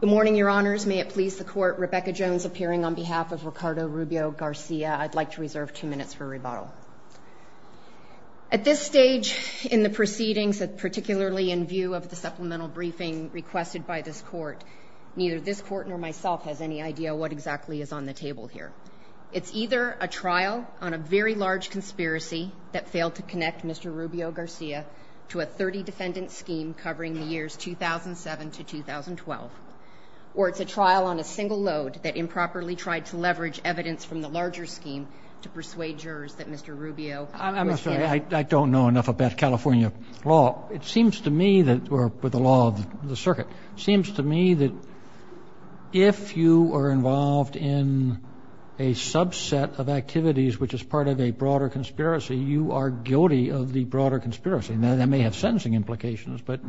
Good morning, your honors. May it please the court, Rebecca Jones appearing on behalf of Ricardo Rubio-Garcia. I'd like to reserve two minutes for rebuttal. At this stage in the proceedings, particularly in view of the supplemental briefing requested by this court, neither this court nor myself has any idea what exactly is on the table here. It's either a trial on a very large conspiracy that failed to connect Mr. Rubio-Garcia to a 30-defendant scheme covering the years 2007 to 2012, or it's a trial on a single load that improperly tried to leverage evidence from the larger scheme to persuade jurors that Mr. Rubio was guilty. I don't know enough about California law. It seems to me that, or the law of the circuit, it seems to me that if you are involved in a subset of activities which is part of a broader conspiracy, you are guilty of the broader conspiracy. Now, that may have sentencing implications, but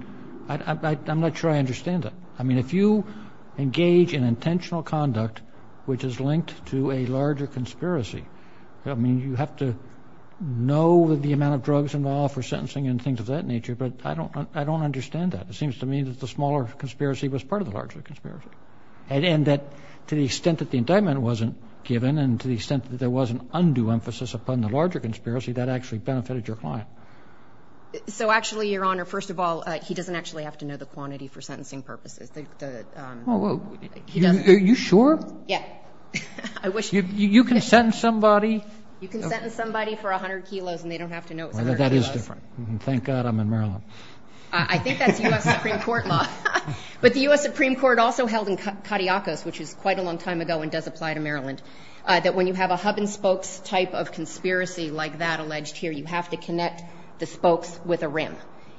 I'm not sure I understand that. I mean, if you engage in intentional conduct which is linked to a larger conspiracy, I mean, you have to know the amount of drugs involved for sentencing and things of that nature, but I don't understand that. It seems to me that the smaller conspiracy was part of the larger conspiracy, and that to the extent that the indictment wasn't given and to the extent that there was an undue emphasis upon the larger conspiracy, that actually benefited your client. So actually, Your Honor, first of all, he doesn't actually have to know the quantity for sentencing purposes. Are you sure? Yeah. You can sentence somebody. You can sentence somebody for 100 kilos and they don't have to know it's 100 kilos. That is different. Thank God I'm in Maryland. I think that's U.S. Supreme Court law. But the U.S. Supreme Court also held in Cadillacos, which is quite a long time ago and does apply to Maryland, that when you have a hub and spokes type of conspiracy like that alleged here, you have to connect the spokes with a rim.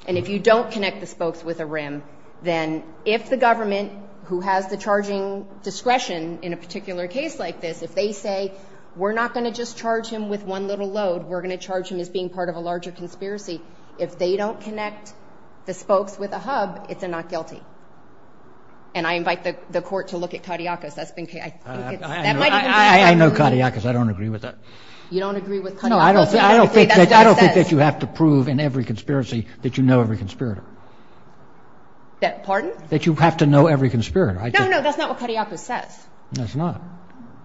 And if you don't connect the spokes with a rim, then if the government, who has the charging discretion in a particular case like this, if they say, we're not going to just charge him with one little load, we're going to charge him as being part of a larger conspiracy, if they don't connect the spokes with a hub, it's a not guilty. And I invite the Court to look at Cadillacos. I know Cadillacos. I don't agree with that. You don't agree with Cadillacos? No, I don't think that you have to prove in every conspiracy that you know every conspirator. Pardon? That you have to know every conspirator. No, no, that's not what Cadillacos says. No, it's not.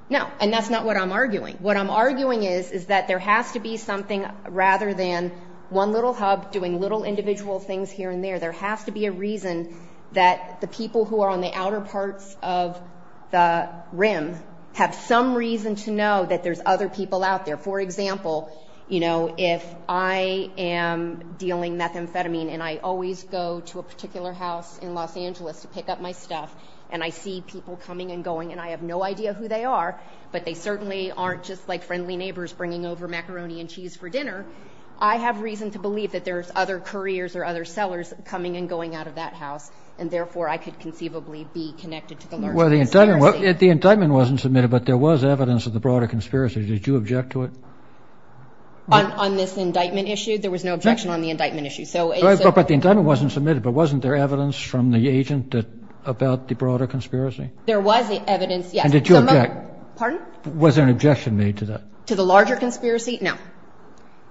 No, and that's not what I'm arguing. What I'm arguing is, is that there has to be something rather than one little hub doing little individual things here and there. There has to be a reason that the people who are on the outer parts of the rim have some reason to know that there's other people out there. For example, you know, if I am dealing methamphetamine, and I always go to a particular house in Los Angeles to pick up my stuff, and I see people coming and going, and I have no idea who they are, but they certainly aren't just like friendly neighbors bringing over macaroni and cheese for dinner, I have reason to believe that there's other couriers or other sellers coming and going out of that house, and therefore I could conceivably be connected to the larger conspiracy. Well, the indictment wasn't submitted, but there was evidence of the broader conspiracy. Did you object to it? On this indictment issue, there was no objection on the indictment issue. But the indictment wasn't submitted, but wasn't there evidence from the agent about the broader conspiracy? There was evidence, yes. And did you object? Pardon? Was there an objection made to that? To the larger conspiracy? No.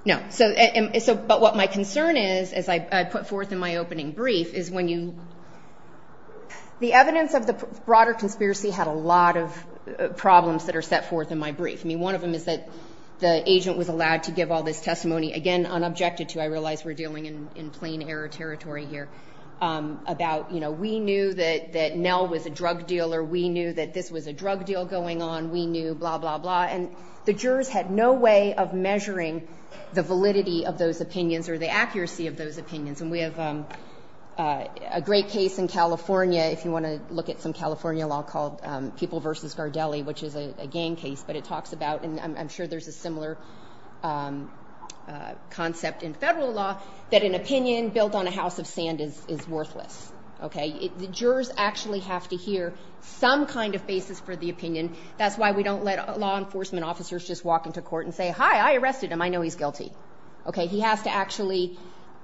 No. So, but what my concern is, as I put forth in my opening brief, is when you, the evidence of the broader conspiracy had a lot of problems that are set forth in my brief. I mean, one of them is that the agent was allowed to give all this testimony, again, unobjected to, I realize we're dealing in plain error territory here, about, you know, we knew that Nell was a drug dealer, we knew that this was a drug deal going on, we knew, blah, blah, blah. And the jurors had no way of measuring the validity of those opinions or the accuracy of those opinions. And we have a great case in California, if you want to look at some California law, called People v. Gardelli, which is a gang case. But it talks about, and I'm sure there's a similar concept in federal law, that an opinion built on a house of sand is worthless. Okay? The jurors actually have to hear some kind of basis for the opinion. That's why we don't let law enforcement officers just walk into court and say, hi, I arrested him, I know he's guilty. Okay? He has to actually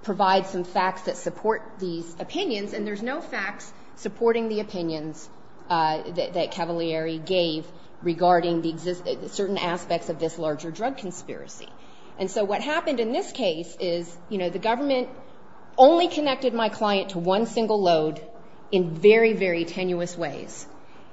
provide some facts that support these opinions, and there's no facts supporting the opinions that Cavalieri gave regarding certain aspects of this larger drug conspiracy. And so what happened in this case is, you know, the government only connected my client to one single load in very, very tenuous ways,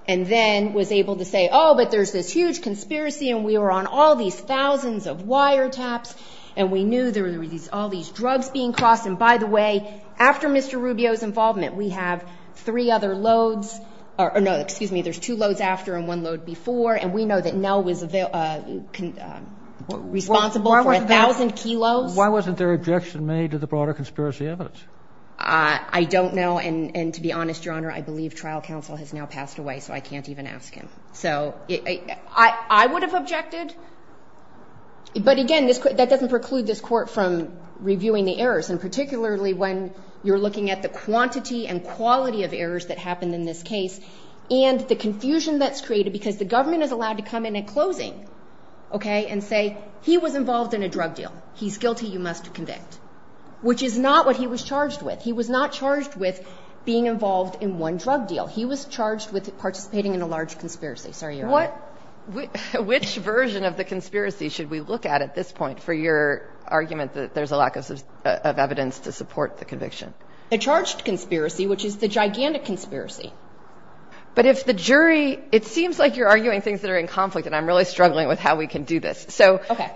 and then was able to say, oh, but there's this huge conspiracy, and we were on all these thousands of wiretaps, and we knew there were all these drugs being crossed. And, by the way, after Mr. Rubio's involvement, we have three other loads or no, excuse me, there's two loads after and one load before, and we know that Nell was responsible for 1,000 kilos. Why wasn't there objection made to the broader conspiracy evidence? I don't know. And, to be honest, Your Honor, I believe trial counsel has now passed away, so I can't even ask him. So I would have objected, but, again, that doesn't preclude this court from reviewing the errors, and particularly when you're looking at the quantity and quality of errors that happened in this case and the confusion that's created because the government is allowed to come in at closing, okay, and say he was involved in a drug deal, he's guilty, you must convict, which is not what he was charged with. He was not charged with being involved in one drug deal. He was charged with participating in a large conspiracy. Sorry, Your Honor. Which version of the conspiracy should we look at at this point for your argument that there's a lack of evidence to support the conviction? A charged conspiracy, which is the gigantic conspiracy. But if the jury, it seems like you're arguing things that are in conflict, and I'm really struggling with how we can do this. Okay.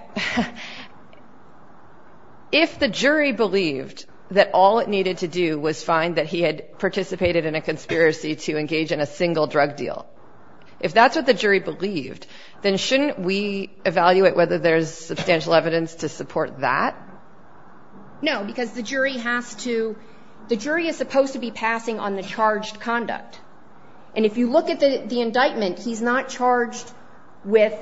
If the jury believed that all it needed to do was find that he had participated in a conspiracy to engage in a single drug deal, if that's what the jury believed, then shouldn't we evaluate whether there's substantial evidence to support that? No, because the jury has to, the jury is supposed to be passing on the charged conduct. And if you look at the indictment, he's not charged with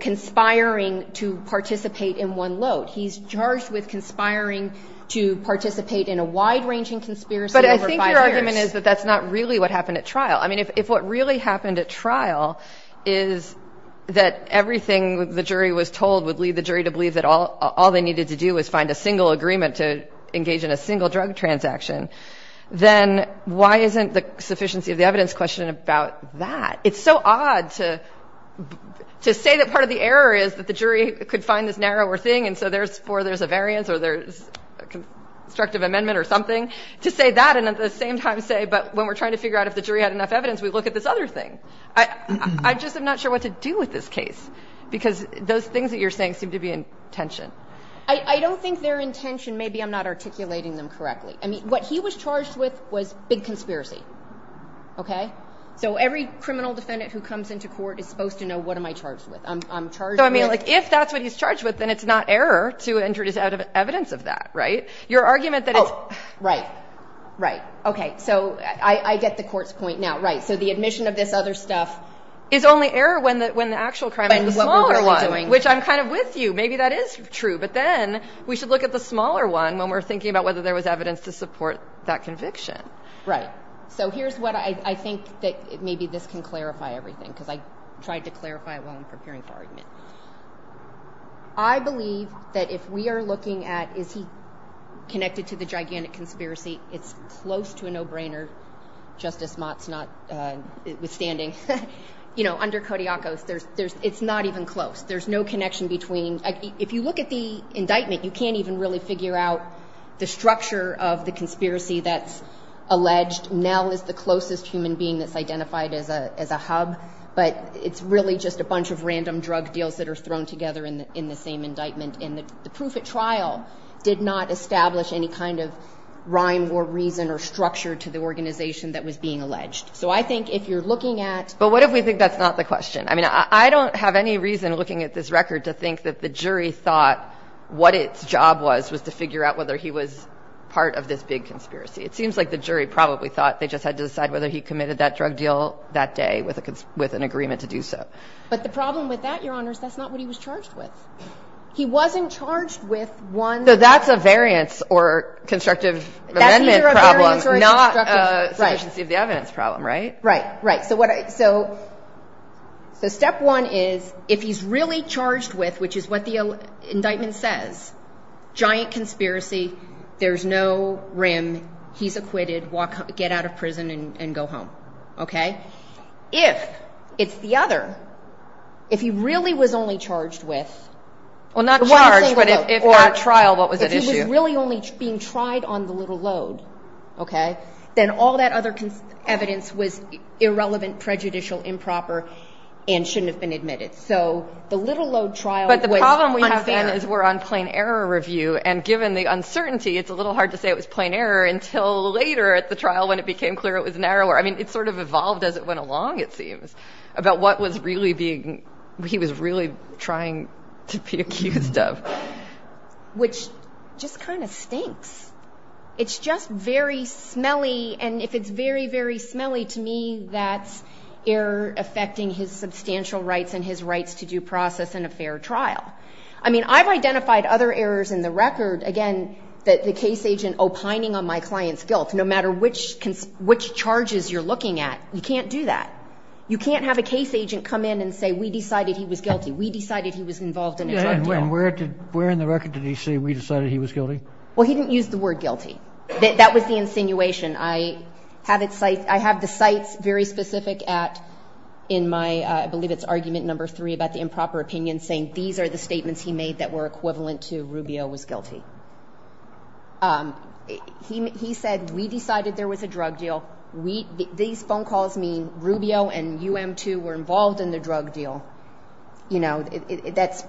conspiring to participate in one load. He's charged with conspiring to participate in a wide-ranging conspiracy over five years. But I think your argument is that that's not really what happened at trial. I mean, if what really happened at trial is that everything the jury was told would lead the jury to believe that all they needed to do was find a single agreement to engage in a single drug transaction, then why isn't the sufficiency of the evidence question about that? It's so odd to say that part of the error is that the jury could find this narrower thing, and so there's a variance or there's a constructive amendment or something, to say that, and at the same time say, but when we're trying to figure out if the jury had enough evidence, we look at this other thing. I just am not sure what to do with this case, because those things that you're saying seem to be in tension. I don't think they're in tension. Maybe I'm not articulating them correctly. I mean, what he was charged with was big conspiracy. Okay? So every criminal defendant who comes into court is supposed to know what am I charged with. I'm charged with – So, I mean, like, if that's what he's charged with, then it's not error to introduce evidence of that, right? Your argument that it's – Oh, right, right. Okay, so I get the court's point now. Right. So the admission of this other stuff – Is only error when the actual crime is the smaller one, which I'm kind of with you. Maybe that is true, but then we should look at the smaller one when we're thinking about whether there was evidence to support that conviction. Right. So here's what I think that maybe this can clarify everything, because I tried to clarify it while I'm preparing for argument. I believe that if we are looking at is he connected to the gigantic conspiracy, it's close to a no-brainer, Justice Mott's notwithstanding. You know, under Kodiakos, it's not even close. There's no connection between – If you look at the indictment, you can't even really figure out the structure of the conspiracy that's alleged. Nell is the closest human being that's identified as a hub, but it's really just a bunch of random drug deals that are thrown together in the same indictment. And the proof at trial did not establish any kind of rhyme or reason or structure to the organization that was being alleged. So I think if you're looking at – But what if we think that's not the question? I mean, I don't have any reason looking at this record to think that the jury thought what its job was, was to figure out whether he was part of this big conspiracy. It seems like the jury probably thought they just had to decide whether he committed that drug deal that day with an agreement to do so. But the problem with that, Your Honor, is that's not what he was charged with. He wasn't charged with one – So that's a variance or constructive amendment problem, not a sufficiency of the evidence problem, right? Right, right. So step one is if he's really charged with, which is what the indictment says, giant conspiracy, there's no rim, he's acquitted, get out of prison and go home. Okay? If it's the other, if he really was only charged with – Well, not charged, but at trial, what was at issue? If he was really only being tried on the little load, okay, then all that other evidence was irrelevant, prejudicial, improper, and shouldn't have been admitted. So the little load trial was unfair. But the problem we have then is we're on plain error review, and given the uncertainty, it's a little hard to say it was plain error until later at the trial when it became clear it was narrower. I mean, it sort of evolved as it went along, it seems, about what was really being – he was really trying to be accused of. Which just kind of stinks. It's just very smelly, and if it's very, very smelly, to me that's error affecting his substantial rights and his rights to due process in a fair trial. I mean, I've identified other errors in the record. Again, the case agent opining on my client's guilt, no matter which charges you're looking at, you can't do that. You can't have a case agent come in and say, we decided he was guilty, we decided he was involved in a drug deal. And where in the record did he say, we decided he was guilty? Well, he didn't use the word guilty. That was the insinuation. I have the cites very specific at, in my – I believe it's argument number three about the improper opinion saying these are the statements he made that were equivalent to Rubio was guilty. He said, we decided there was a drug deal. These phone calls mean Rubio and UM2 were involved in the drug deal. You know, that's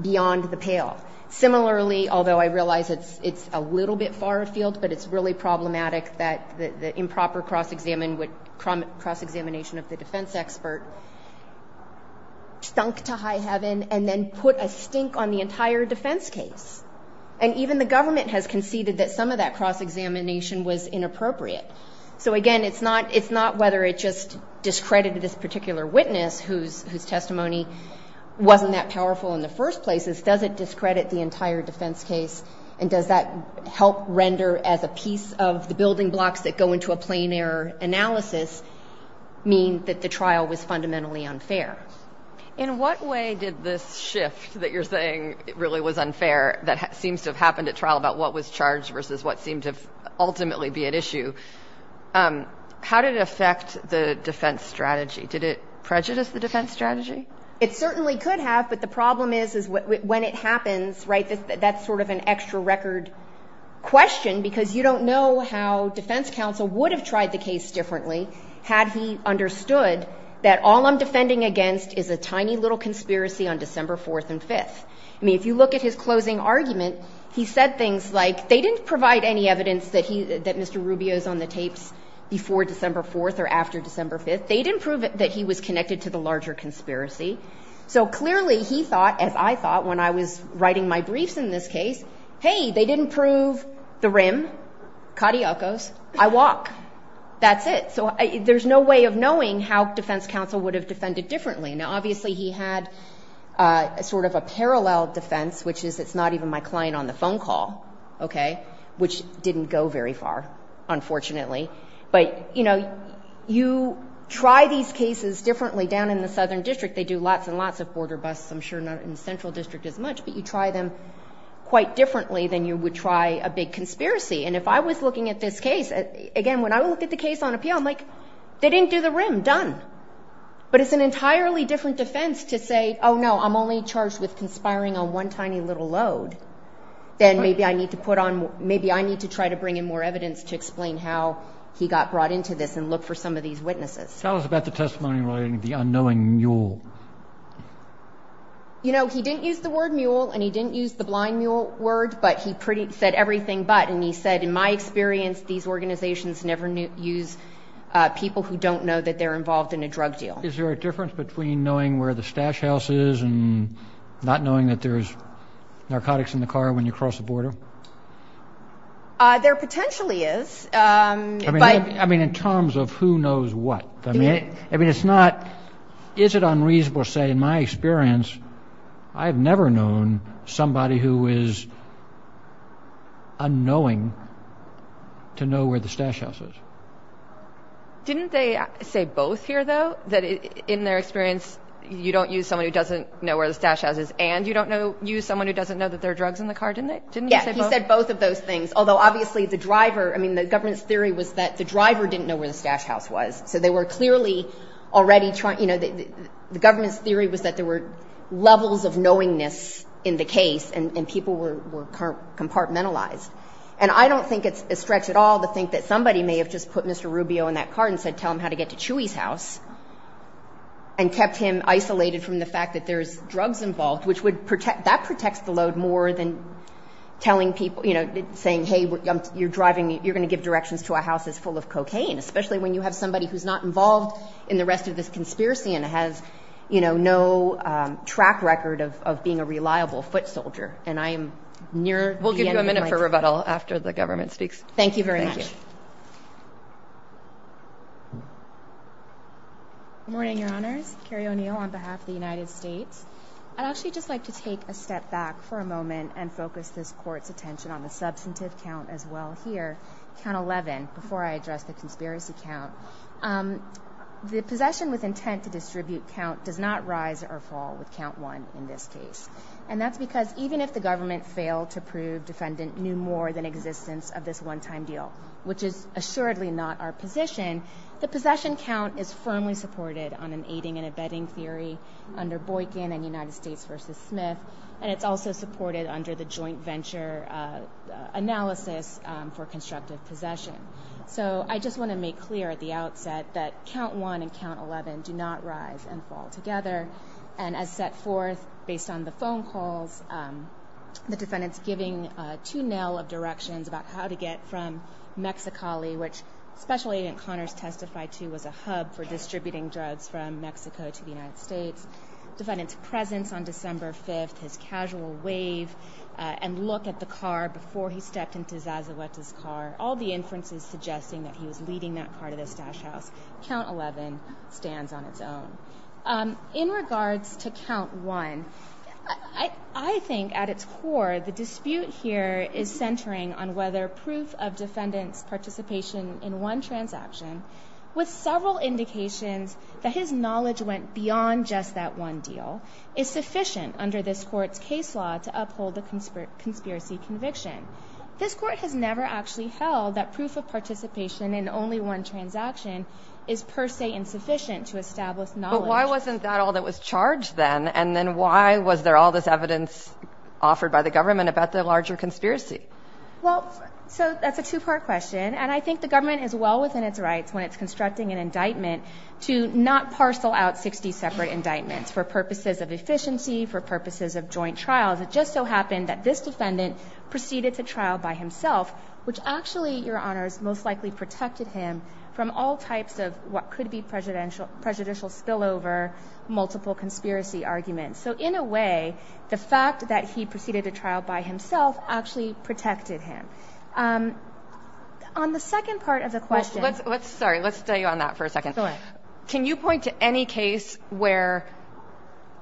beyond the pale. Similarly, although I realize it's a little bit far afield, but it's really problematic that the improper cross-examination of the defense expert stunk to high heaven and then put a stink on the entire defense case. And even the government has conceded that some of that cross-examination was inappropriate. So, again, it's not whether it just discredited this particular witness whose testimony wasn't that powerful in the first place. It's does it discredit the entire defense case and does that help render as a piece of the building blocks that go into a plain error analysis mean that the trial was fundamentally unfair? In what way did this shift that you're saying really was unfair that seems to have happened at trial about what was charged versus what seemed to ultimately be at issue? How did it affect the defense strategy? Did it prejudice the defense strategy? It certainly could have, but the problem is when it happens, right, that's sort of an extra record question because you don't know how defense counsel would have tried the case differently had he understood that all I'm defending against is a tiny little conspiracy on December 4th and 5th. I mean, if you look at his closing argument, he said things like they didn't provide any evidence that Mr. Rubio is on the tapes before December 4th or after December 5th. They didn't prove that he was connected to the larger conspiracy. So, clearly, he thought, as I thought when I was writing my briefs in this case, hey, they didn't prove the rim, cariocos, I walk, that's it. So there's no way of knowing how defense counsel would have defended differently. Now, obviously, he had sort of a parallel defense, which is it's not even my client on the phone call, okay, which didn't go very far, unfortunately. But, you know, you try these cases differently down in the southern district. They do lots and lots of border busts. I'm sure not in the central district as much, but you try them quite differently than you would try a big conspiracy. And if I was looking at this case, again, when I look at the case on appeal, I'm like, they didn't do the rim, done. But it's an entirely different defense to say, oh, no, I'm only charged with conspiring on one tiny little load. Then maybe I need to put on maybe I need to try to bring in more evidence to explain how he got brought into this and look for some of these witnesses. Tell us about the testimony relating to the unknowing mule. You know, he didn't use the word mule and he didn't use the blind mule word, but he said everything but. And he said, in my experience, these organizations never use people who don't know that they're involved in a drug deal. Is there a difference between knowing where the stash house is and not knowing that there's narcotics in the car when you cross the border? There potentially is. I mean, in terms of who knows what. I mean, it's not. Is it unreasonable to say, in my experience, I've never known somebody who is. Unknowing. To know where the stash houses. Didn't they say both here, though, that in their experience, you don't use someone who doesn't know where the stash houses and you don't know you someone who doesn't know that there are drugs in the car, didn't they? Didn't you say both of those things? Although obviously the driver I mean, the government's theory was that the driver didn't know where the stash house was. So they were clearly already trying. You know, the government's theory was that there were levels of knowingness in the case and people were compartmentalized. And I don't think it's a stretch at all to think that somebody may have just put Mr. Rubio in that car and said, tell him how to get to Chewy's house. And kept him isolated from the fact that there's drugs involved, which would protect that protects the load more than telling people, you know, saying, hey, you're driving. You're going to give directions to a house is full of cocaine, especially when you have somebody who's not involved in the rest of this conspiracy and has, you know, no track record of being a reliable foot soldier. And I am near. We'll give you a minute for rebuttal after the government speaks. Thank you very much. Morning, Your Honors. Carrie O'Neill on behalf of the United States. I'd actually just like to take a step back for a moment and focus this court's attention on the substantive count as well here. Count 11. Before I address the conspiracy count, the possession with intent to distribute count does not rise or fall with count one in this case. And that's because even if the government failed to prove defendant knew more than existence of this one time deal, which is assuredly not our position, the possession count is firmly supported on an aiding and abetting theory under Boykin and United States versus Smith. And it's also supported under the joint venture analysis for constructive possession. So I just want to make clear at the outset that count one and count 11 do not rise and fall together. And as set forth based on the phone calls, the defendant's giving two nail of directions about how to get from Mexicali, which special agent Connors testified to was a hub for distributing drugs from Mexico to the United States. Defendant's presence on December 5th, his casual wave and look at the car before he stepped into Zazueta's car. All the inferences suggesting that he was leading that car to the stash house. Count 11 stands on its own in regards to count one. I think at its core, the dispute here is centering on whether proof of defendants participation in one transaction with several indications that his knowledge went beyond just that one deal is sufficient under this court's case law to uphold the conspiracy conviction. This court has never actually held that proof of participation in only one transaction is per se insufficient to establish knowledge. But why wasn't that all that was charged then? And then why was there all this evidence offered by the government about the larger conspiracy? Well, so that's a two-part question. And I think the government is well within its rights when it's constructing an indictment to not parcel out 60 separate indictments for purposes of efficiency, for purposes of joint trials. It just so happened that this defendant proceeded to trial by himself, which actually, Your Honors, most likely protected him from all types of what could be prejudicial spillover, multiple conspiracy arguments. So in a way, the fact that he proceeded to trial by himself actually protected him. On the second part of the question. Sorry, let's stay on that for a second. Can you point to any case where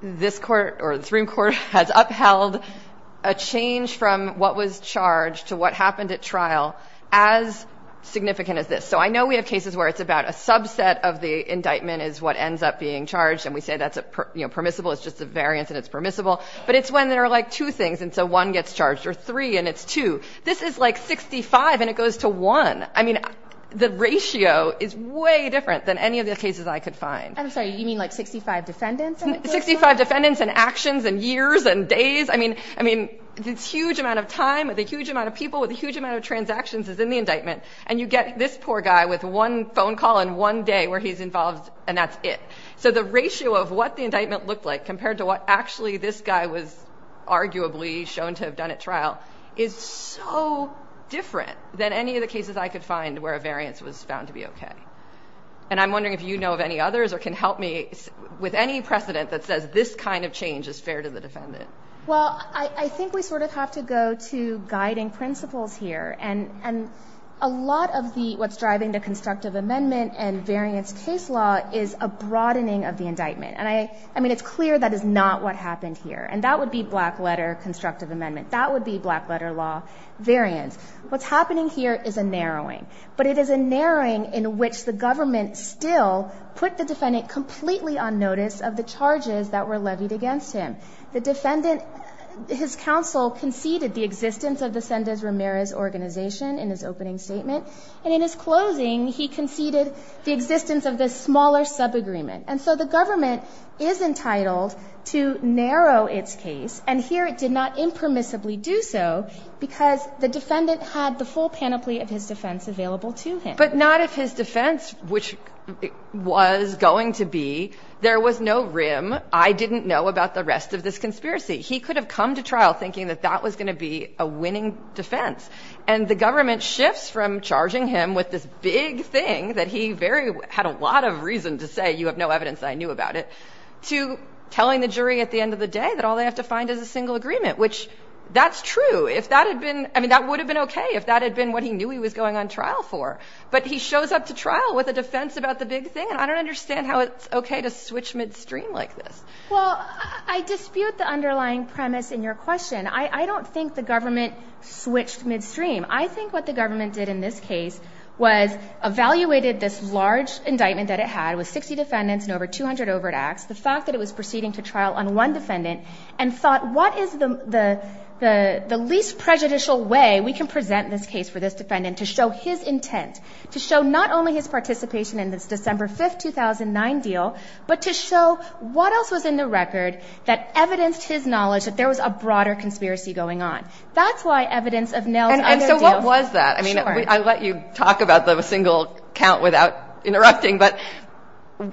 this court or the Supreme Court has upheld a change from what was charged to what happened at trial as significant as this? So I know we have cases where it's about a subset of the indictment is what ends up being charged. And we say that's permissible. It's just a variance and it's permissible. But it's when there are like two things. And so one gets charged or three and it's two. This is like 65 and it goes to one. I mean, the ratio is way different than any of the cases I could find. I'm sorry. You mean like 65 defendants, 65 defendants and actions and years and days? I mean, I mean, this huge amount of time with a huge amount of people with a huge amount of transactions is in the indictment. And you get this poor guy with one phone call in one day where he's involved. And that's it. So the ratio of what the indictment looked like compared to what actually this guy was arguably shown to have done at trial is so different than any of the cases I could find where a variance was found to be OK. And I'm wondering if you know of any others or can help me with any precedent that says this kind of change is fair to the defendant. Well, I think we sort of have to go to guiding principles here. And a lot of the what's driving the constructive amendment and variance case law is a broadening of the indictment. And I mean, it's clear that is not what happened here. And that would be black letter constructive amendment. That would be black letter law variance. What's happening here is a narrowing. But it is a narrowing in which the government still put the defendant completely on notice of the charges that were levied against him. The defendant, his counsel conceded the existence of the Sendez Ramirez organization in his opening statement. And in his closing, he conceded the existence of this smaller subagreement. And so the government is entitled to narrow its case. And here it did not impermissibly do so because the defendant had the full panoply of his defense available to him. But not of his defense, which it was going to be. There was no rim. I didn't know about the rest of this conspiracy. He could have come to trial thinking that that was going to be a winning defense. And the government shifts from charging him with this big thing that he had a lot of reason to say, you have no evidence I knew about it, to telling the jury at the end of the day that all they have to find is a single agreement, which that's true. If that had been I mean, that would have been OK if that had been what he knew he was going on trial for. But he shows up to trial with a defense about the big thing. And I don't understand how it's OK to switch midstream like this. Well, I dispute the underlying premise in your question. I don't think the government switched midstream. I think what the government did in this case was evaluated this large indictment that it had with 60 defendants and over 200 overt acts, the fact that it was proceeding to trial on one defendant, and thought what is the least prejudicial way we can present this case for this defendant to show his intent, to show not only his participation in this December 5th, 2009 deal, but to show what else was in the record that evidenced his knowledge that there was a broader conspiracy going on. That's why evidence of nails. And so what was that? I mean, I let you talk about the single count without interrupting. But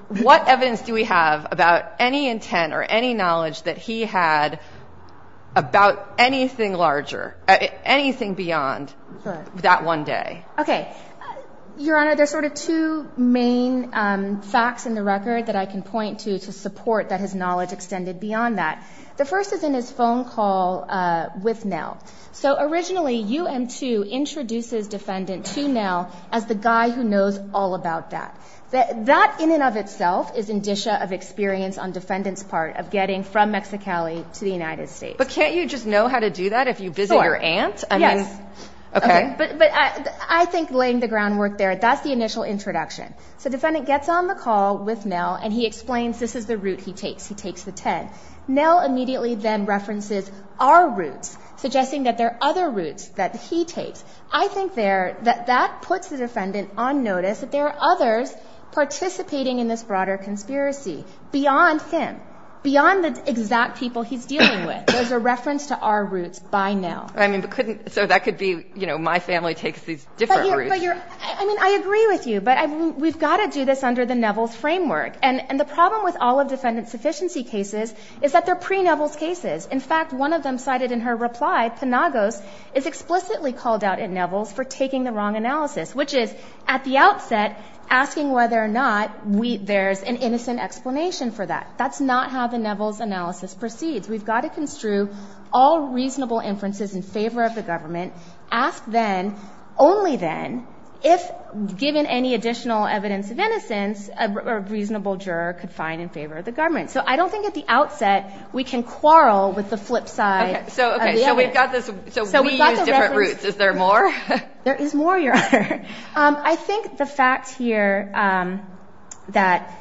what evidence do we have about any intent or any knowledge that he had about anything larger, anything beyond that one day? OK. Your Honor, there's sort of two main facts in the record that I can point to to support that his knowledge extended beyond that. The first is in his phone call with now. So originally you and to introduces defendant to now as the guy who knows all about that, that that in and of itself is indicia of experience on defendants part of getting from Mexicali to the United States. But can't you just know how to do that if you visit your aunt? Yes. OK. But I think laying the groundwork there, that's the initial introduction. So defendant gets on the call with now and he explains this is the route he takes. He takes the 10 now immediately then references our routes, suggesting that there are other routes that he takes. I think there that that puts the defendant on notice that there are others participating in this broader conspiracy beyond him, beyond the exact people he's dealing with. There's a reference to our roots by now. I mean, couldn't so that could be, you know, my family takes these different. I mean, I agree with you, but we've got to do this under the Neville's framework. And the problem with all of defendant sufficiency cases is that they're pre Neville's cases. In fact, one of them cited in her reply, Penagos is explicitly called out in Neville's for taking the wrong analysis, which is at the outset asking whether or not there's an innocent explanation for that. That's not how the Neville's analysis proceeds. We've got to construe all reasonable inferences in favor of the government. Ask then, only then, if given any additional evidence of innocence, a reasonable juror could find in favor of the government. So I don't think at the outset we can quarrel with the flip side. So we've got this. So we use different routes. Is there more? There is more, Your Honor. I think the fact here that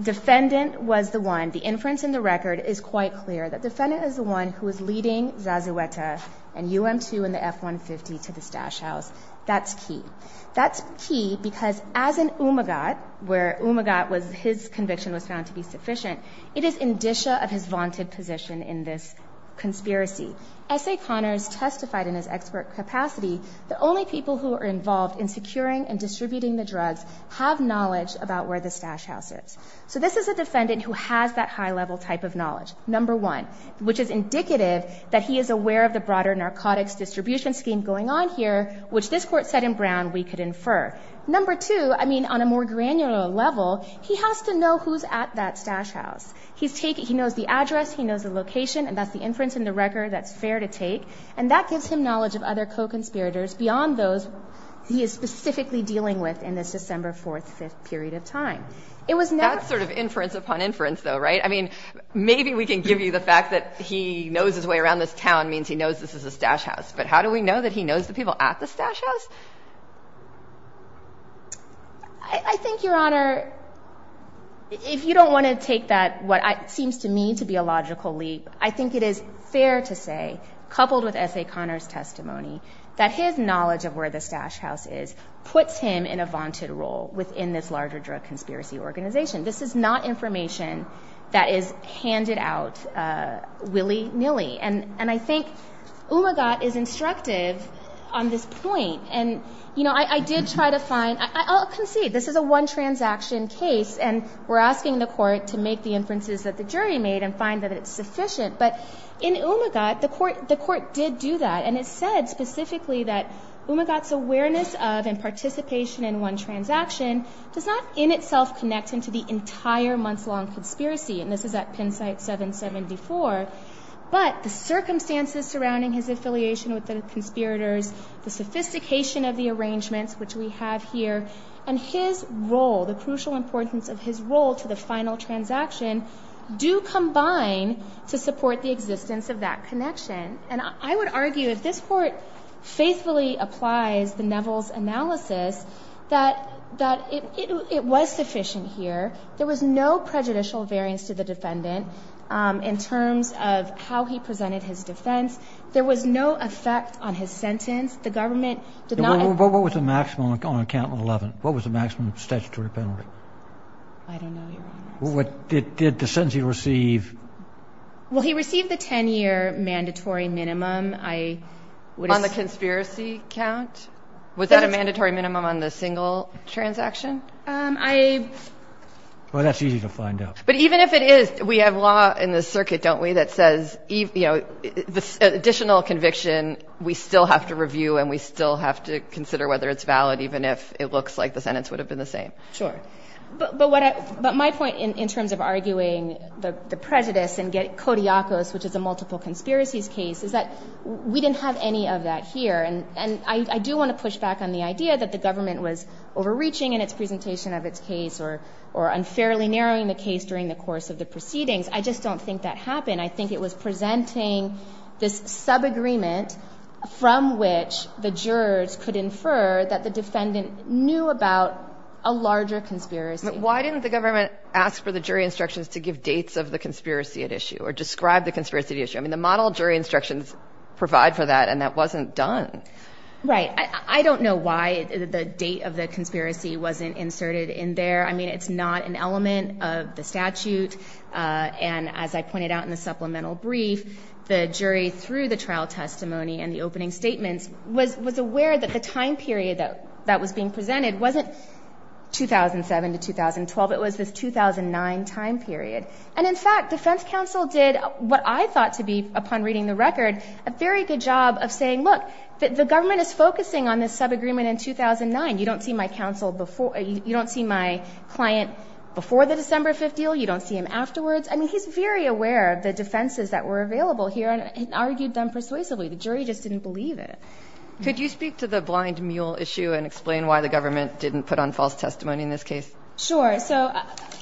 defendant was the one, the inference in the record is quite clear, that defendant is the one who is leading Zazueta and UM-2 and the F-150 to the stash house. That's key. That's key because as an umagat, where umagat was his conviction was found to be sufficient, it is indicia of his vaunted position in this conspiracy. S.A. Connors testified in his expert capacity that only people who are involved in securing and distributing the drugs have knowledge about where the stash house is. So this is a defendant who has that high-level type of knowledge, number one, which is indicative that he is aware of the broader narcotics distribution scheme going on here, which this Court said in Brown we could infer. Number two, I mean, on a more granular level, he has to know who's at that stash house. He knows the address, he knows the location, and that's the inference in the record that's fair to take, and that gives him knowledge of other co-conspirators beyond those he is specifically dealing with in this December 4th, 5th period of time. That's sort of inference upon inference, though, right? I mean, maybe we can give you the fact that he knows his way around this town means he knows this is a stash house, but how do we know that he knows the people at the stash house? I think, Your Honor, if you don't want to take that, what seems to me to be a logical leap, I think it is fair to say, coupled with S.A. Connor's testimony, that his knowledge of where the stash house is puts him in a vaunted role within this larger drug conspiracy organization. This is not information that is handed out willy-nilly, and I think Umagat is instructive on this point. I'll concede, this is a one-transaction case, and we're asking the court to make the inferences that the jury made and find that it's sufficient, but in Umagat, the court did do that, and it said specifically that Umagat's awareness of and participation in one transaction does not in itself connect him to the entire month-long conspiracy, and this is at Penn Site 774, but the circumstances surrounding his affiliation with the conspirators, the sophistication of the arrangements, which we have here, and his role, the crucial importance of his role to the final transaction, do combine to support the existence of that connection, and I would argue, if this court faithfully applies the Neville's analysis, that it was sufficient here. There was no prejudicial variance to the defendant in terms of how he presented his defense. There was no effect on his sentence. The government did not – What was the maximum on account of 11? What was the maximum statutory penalty? I don't know, Your Honor. Did the sentencing receive – Well, he received the 10-year mandatory minimum. On the conspiracy count? Was that a mandatory minimum on the single transaction? Well, that's easy to find out. But even if it is, we have law in the circuit, don't we, that says the additional conviction we still have to review and we still have to consider whether it's valid even if it looks like the sentence would have been the same. Sure. But my point in terms of arguing the prejudice and Kodiakos, which is a multiple conspiracies case, is that we didn't have any of that here, and I do want to push back on the idea that the government was overreaching in its presentation of its case or unfairly narrowing the case during the course of the proceedings. I just don't think that happened. I think it was presenting this subagreement from which the jurors could infer that the defendant knew about a larger conspiracy. But why didn't the government ask for the jury instructions to give dates of the conspiracy at issue or describe the conspiracy at issue? I mean, the model jury instructions provide for that, and that wasn't done. Right. I don't know why the date of the conspiracy wasn't inserted in there. I mean, it's not an element of the statute, and as I pointed out in the supplemental brief, the jury, through the trial testimony and the opening statements, was aware that the time period that was being presented wasn't 2007 to 2012. It was this 2009 time period. And, in fact, defense counsel did what I thought to be, upon reading the record, a very good job of saying, look, the government is focusing on this subagreement in 2009. You don't see my client before the December 5th deal. You don't see him afterwards. I mean, he's very aware of the defenses that were available here and argued them persuasively. The jury just didn't believe it. Could you speak to the blind mule issue and explain why the government didn't put on false testimony in this case? Sure. So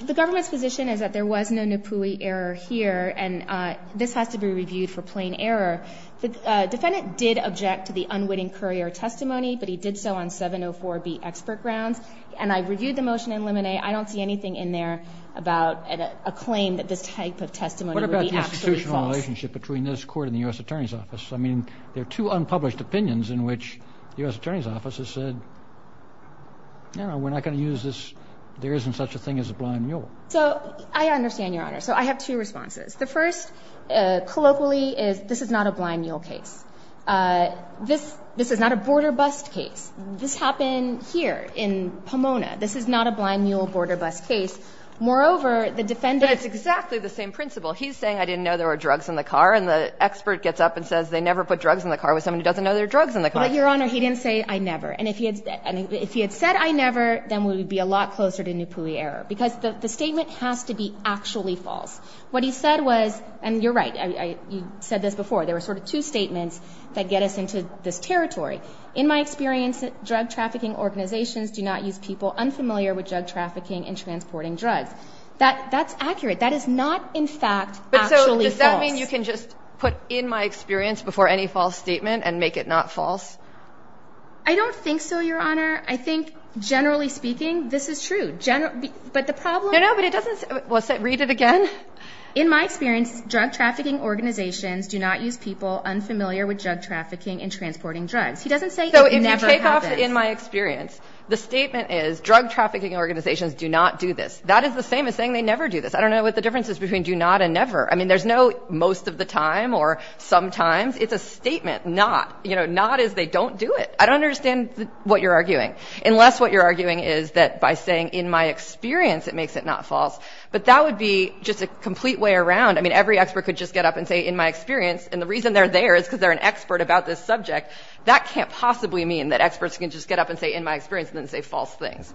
the government's position is that there was no NAPUI error here, and this has to be reviewed for plain error. The defendant did object to the unwitting courier testimony, but he did so on 704B expert grounds, and I reviewed the motion in Lemonet. I don't see anything in there about a claim that this type of testimony would be absolutely false. What about the institutional relationship between this Court and the U.S. Attorney's Office? I mean, there are two unpublished opinions in which the U.S. Attorney's Office has said, you know, we're not going to use this. There isn't such a thing as a blind mule. So I understand, Your Honor. So I have two responses. The first, colloquially, is this is not a blind mule case. This is not a border bust case. This happened here in Pomona. This is not a blind mule border bust case. Moreover, the defendant's ---- But it's exactly the same principle. He's saying I didn't know there were drugs in the car, and the expert gets up and says they never put drugs in the car with someone who doesn't know there are drugs in the car. But, Your Honor, he didn't say I never. And if he had said I never, then we would be a lot closer to NAPUI error, because the statement has to be actually false. What he said was, and you're right. You said this before. There were sort of two statements that get us into this territory. In my experience, drug trafficking organizations do not use people unfamiliar with drug trafficking and transporting drugs. That's accurate. That is not, in fact, actually false. But so does that mean you can just put in my experience before any false statement and make it not false? I don't think so, Your Honor. I think, generally speaking, this is true. But the problem ---- No, no. But it doesn't ---- Well, read it again. In my experience, drug trafficking organizations do not use people unfamiliar with drug trafficking and transporting drugs. He doesn't say it never happens. So if you take off in my experience, the statement is, drug trafficking organizations do not do this. That is the same as saying they never do this. I don't know what the difference is between do not and never. I mean, there's no most of the time or sometimes. It's a statement, not, you know, not as they don't do it. I don't understand what you're arguing, unless what you're arguing is that by saying in my experience it makes it not false. But that would be just a complete way around. I mean, every expert could just get up and say in my experience, and the reason they're there is because they're an expert about this subject. That can't possibly mean that experts can just get up and say in my experience and then say false things.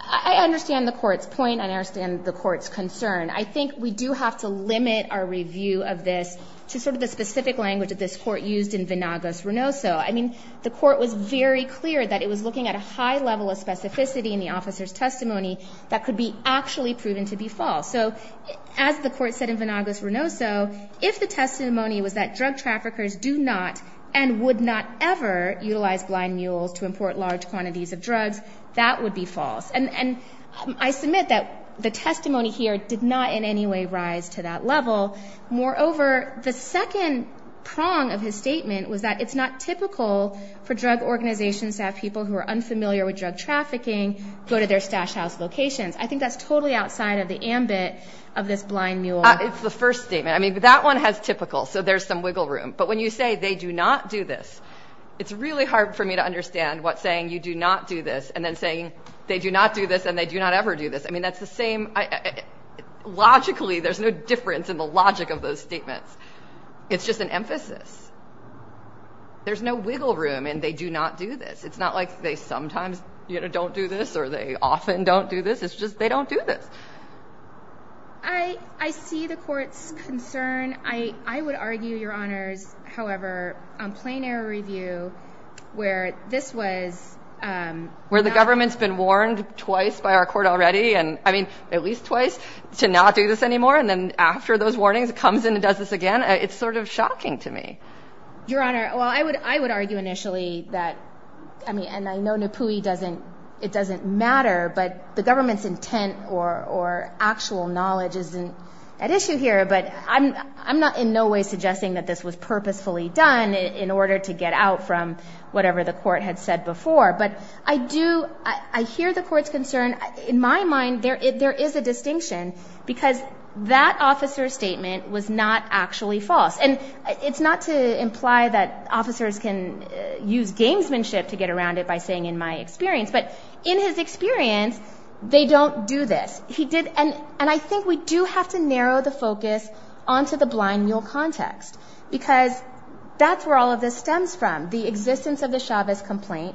I understand the Court's point, and I understand the Court's concern. I think we do have to limit our review of this to sort of the specific language that this Court used in Venagos-Renoso. I mean, the Court was very clear that it was looking at a high level of specificity in the officer's testimony that could be actually proven to be false. So as the Court said in Venagos-Renoso, if the testimony was that drug traffickers do not and would not ever utilize blind mules to import large quantities of drugs, that would be false. And I submit that the testimony here did not in any way rise to that level. Moreover, the second prong of his statement was that it's not typical for drug organizations to have people who are unfamiliar with drug trafficking go to their stash house locations. I think that's totally outside of the ambit of this blind mule. It's the first statement. I mean, that one has typical, so there's some wiggle room. But when you say they do not do this, it's really hard for me to understand what saying you do not do this and then saying they do not do this and they do not ever do this. I mean, that's the same. Logically, there's no difference in the logic of those statements. It's just an emphasis. There's no wiggle room in they do not do this. It's not like they sometimes don't do this or they often don't do this. It's just they don't do this. I see the court's concern. I would argue, Your Honors, however, on plain error review where this was not. Where the government's been warned twice by our court already, and I mean at least twice, to not do this anymore. And then after those warnings, it comes in and does this again. It's sort of shocking to me. Your Honor, well, I would argue initially that, I mean, and I know NAPUI doesn't, it doesn't matter, but the government's intent or actual knowledge isn't at issue here. But I'm not in no way suggesting that this was purposefully done in order to get out from whatever the court had said before. But I do, I hear the court's concern. In my mind, there is a distinction because that officer's statement was not actually false. And it's not to imply that officers can use gamesmanship to get around it by saying, in my experience. But in his experience, they don't do this. And I think we do have to narrow the focus onto the blind mule context because that's where all of this stems from, the existence of the Chavez complaint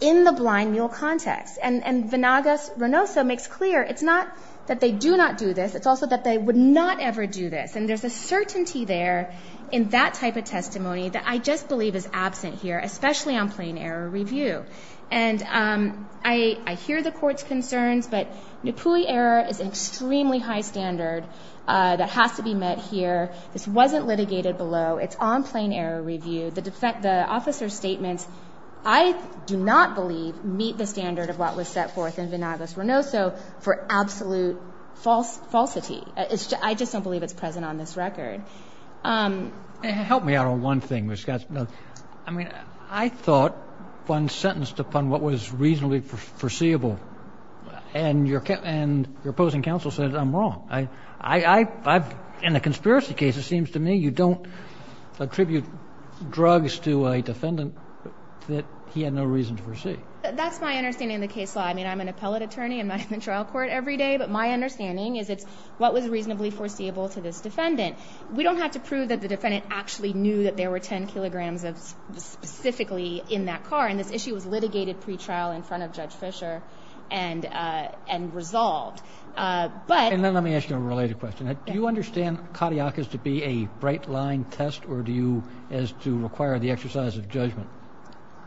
in the blind mule context. And Vanagas-Renoso makes clear it's not that they do not do this. It's also that they would not ever do this. And there's a certainty there in that type of testimony that I just believe is absent here, especially on plain error review. And I hear the court's concerns, but NAPUI error is an extremely high standard that has to be met here. This wasn't litigated below. It's on plain error review. The officer's statements, I do not believe, meet the standard of what was set forth in Vanagas-Renoso for absolute falsity. I just don't believe it's present on this record. Help me out on one thing. I mean, I thought Vanagas-Renoso was sentenced upon what was reasonably foreseeable, and your opposing counsel says I'm wrong. In a conspiracy case, it seems to me you don't attribute drugs to a defendant that he had no reason to foresee. That's my understanding of the case law. I mean, I'm an appellate attorney. I'm not in the trial court every day. But my understanding is it's what was reasonably foreseeable to this defendant. We don't have to prove that the defendant actually knew that there were 10 kilograms specifically in that car, and this issue was litigated pretrial in front of Judge Fischer and resolved. And then let me ask you a related question. Do you understand cardiacus to be a bright-line test or do you as to require the exercise of judgment?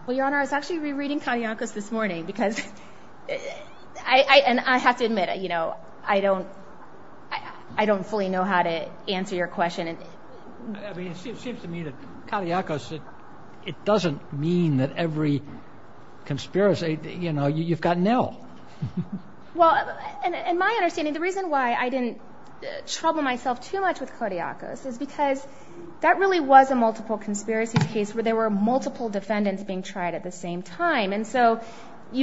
Well, Your Honor, I was actually rereading cardiacus this morning because I have to admit I don't fully know how to answer your question. I mean, it seems to me that cardiacus, it doesn't mean that every conspiracy, you know, you've got nil. Well, in my understanding, the reason why I didn't trouble myself too much with cardiacus is because that really was a multiple conspiracy case where there were multiple defendants being tried at the same time. I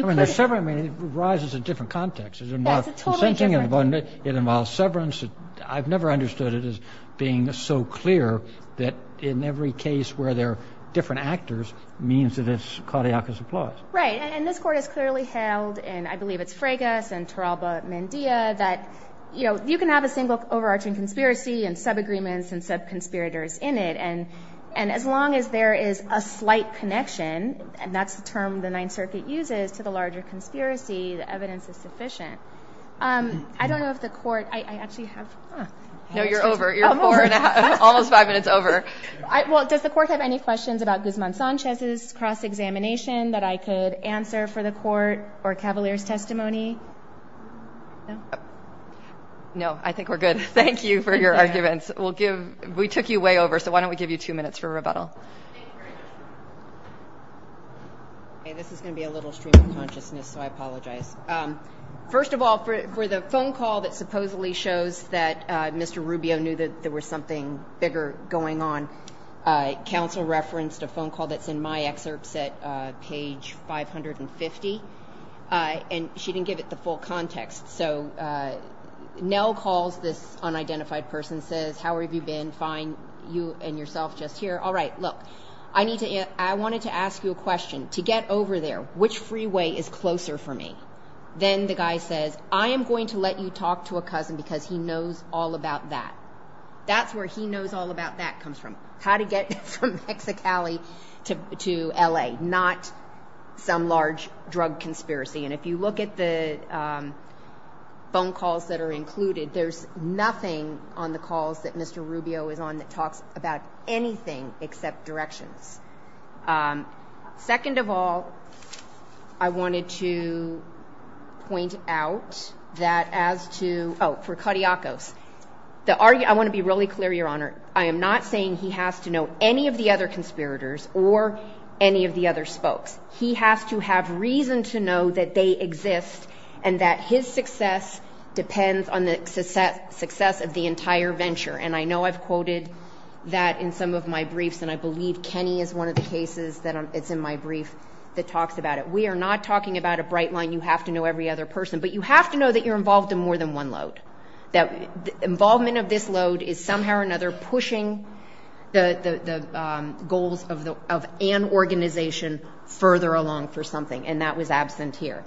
mean, the severance raises a different context. It involves consenting. It involves severance. I've never understood it as being so clear that in every case where there are different actors means that it's cardiacus applause. Right, and this Court has clearly held, and I believe it's Fregas and Taralba-Mendia, that, you know, you can have a single overarching conspiracy and subagreements and subconspirators in it, and as long as there is a slight connection, and that's the term the Ninth Circuit uses to the larger conspiracy, the evidence is sufficient. I don't know if the Court—I actually have— No, you're over. You're four and a half, almost five minutes over. Well, does the Court have any questions about Guzman-Sanchez's cross-examination that I could answer for the Court or Cavalier's testimony? No? No, I think we're good. Thank you for your arguments. We took you way over, so why don't we give you two minutes for rebuttal. Thank you very much. Okay, this is going to be a little stream of consciousness, so I apologize. First of all, for the phone call that supposedly shows that Mr. Rubio knew that there was something bigger going on, counsel referenced a phone call that's in my excerpts at page 550, and she didn't give it the full context. So Nell calls this unidentified person and says, How have you been? Fine. You and yourself just here? All right, look, I wanted to ask you a question. To get over there, which freeway is closer for me? Then the guy says, I am going to let you talk to a cousin because he knows all about that. That's where he knows all about that comes from. How to get from Mexicali to L.A., not some large drug conspiracy. And if you look at the phone calls that are included, there's nothing on the calls that Mr. Rubio is on that talks about anything except directions. Second of all, I wanted to point out that as to – oh, for Cariacos. I want to be really clear, Your Honor. I am not saying he has to know any of the other conspirators or any of the other spokes. He has to have reason to know that they exist and that his success depends on the success of the entire venture. And I know I've quoted that in some of my briefs, and I believe Kenny is one of the cases that's in my brief that talks about it. We are not talking about a bright line, you have to know every other person. But you have to know that you're involved in more than one load. The involvement of this load is somehow or another pushing the goals of an organization further along for something, and that was absent here.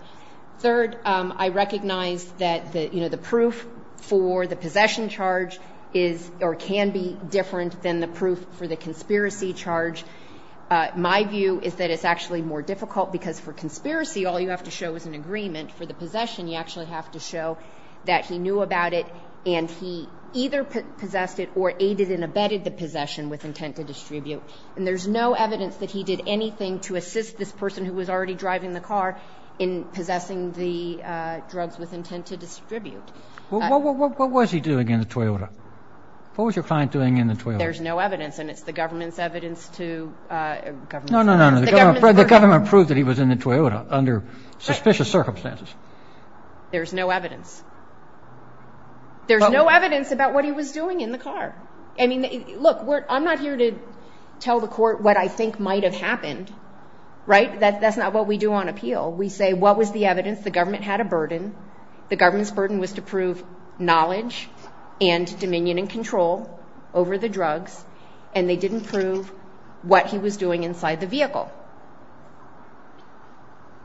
Third, I recognize that the proof for the possession charge is or can be different than the proof for the conspiracy charge. My view is that it's actually more difficult because for conspiracy, all you have to show is an agreement. For the possession, you actually have to show that he knew about it and he either possessed it or aided and abetted the possession with intent to distribute. And there's no evidence that he did anything to assist this person who was already driving the car in possessing the drugs with intent to distribute. What was he doing in the Toyota? What was your client doing in the Toyota? There's no evidence, and it's the government's evidence to... No, no, no. The government proved that he was in the Toyota under suspicious circumstances. There's no evidence. There's no evidence about what he was doing in the car. I mean, look, I'm not here to tell the court what I think might have happened, right? But that's not what we do on appeal. We say, what was the evidence? The government had a burden. The government's burden was to prove knowledge and dominion and control over the drugs, and they didn't prove what he was doing inside the vehicle.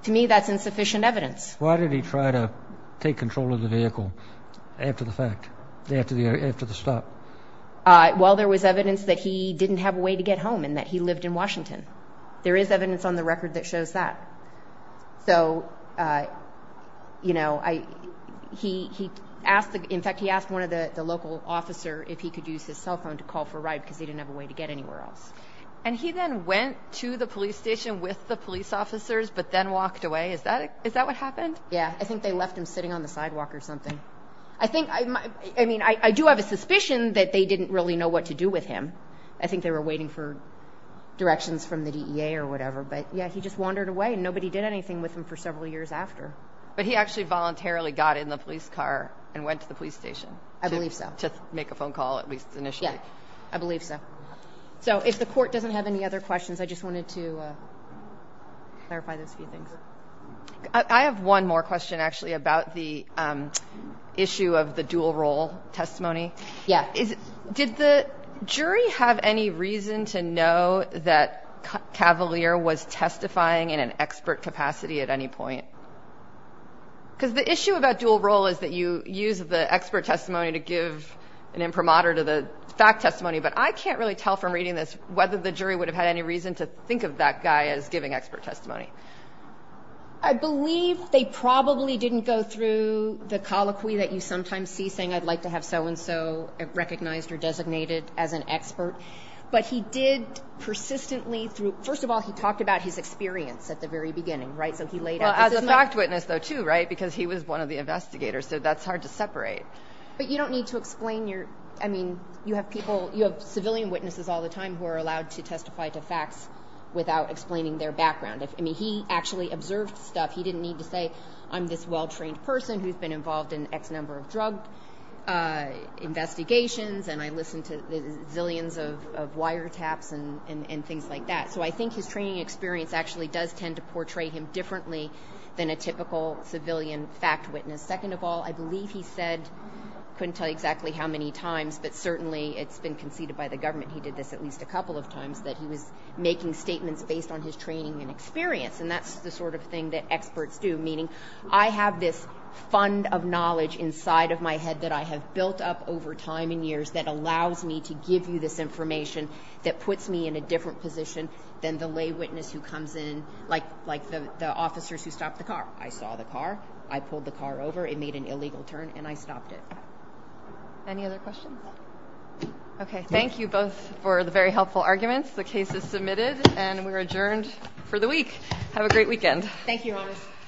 To me, that's insufficient evidence. Why did he try to take control of the vehicle after the fact, after the stop? Well, there was evidence that he didn't have a way to get home and that he lived in Washington. There is evidence on the record that shows that. So, you know, he asked one of the local officers if he could use his cell phone to call for a ride because he didn't have a way to get anywhere else. And he then went to the police station with the police officers but then walked away? Is that what happened? Yeah, I think they left him sitting on the sidewalk or something. I mean, I do have a suspicion that they didn't really know what to do with him. I think they were waiting for directions from the DEA or whatever. But, yeah, he just wandered away, and nobody did anything with him for several years after. But he actually voluntarily got in the police car and went to the police station? I believe so. To make a phone call at least initially? Yeah, I believe so. So if the court doesn't have any other questions, I just wanted to clarify those few things. I have one more question, actually, about the issue of the dual role testimony. Yeah. Did the jury have any reason to know that Cavalier was testifying in an expert capacity at any point? Because the issue about dual role is that you use the expert testimony to give an imprimatur to the fact testimony, but I can't really tell from reading this whether the jury would have had any reason to think of that guy as giving expert testimony. I believe they probably didn't go through the colloquy that you sometimes see saying I'd like to have so-and-so recognized or designated as an expert. But he did persistently through – first of all, he talked about his experience at the very beginning, right? So he laid out – Well, as a fact witness, though, too, right? Because he was one of the investigators, so that's hard to separate. But you don't need to explain your – I mean, you have people – you have civilian witnesses all the time who are allowed to testify to facts without explaining their background. I mean, he actually observed stuff. He didn't need to say I'm this well-trained person who's been involved in X number of drug investigations and I listened to zillions of wiretaps and things like that. So I think his training experience actually does tend to portray him differently than a typical civilian fact witness. Second of all, I believe he said – couldn't tell you exactly how many times, but certainly it's been conceded by the government he did this at least a couple of times that he was making statements based on his training and experience. And that's the sort of thing that experts do, meaning I have this fund of knowledge inside of my head that I have built up over time and years that allows me to give you this information that puts me in a different position than the lay witness who comes in, like the officers who stop the car. I saw the car, I pulled the car over, it made an illegal turn, and I stopped it. Any other questions? Okay, thank you both for the very helpful arguments. The case is submitted and we're adjourned for the week. Have a great weekend.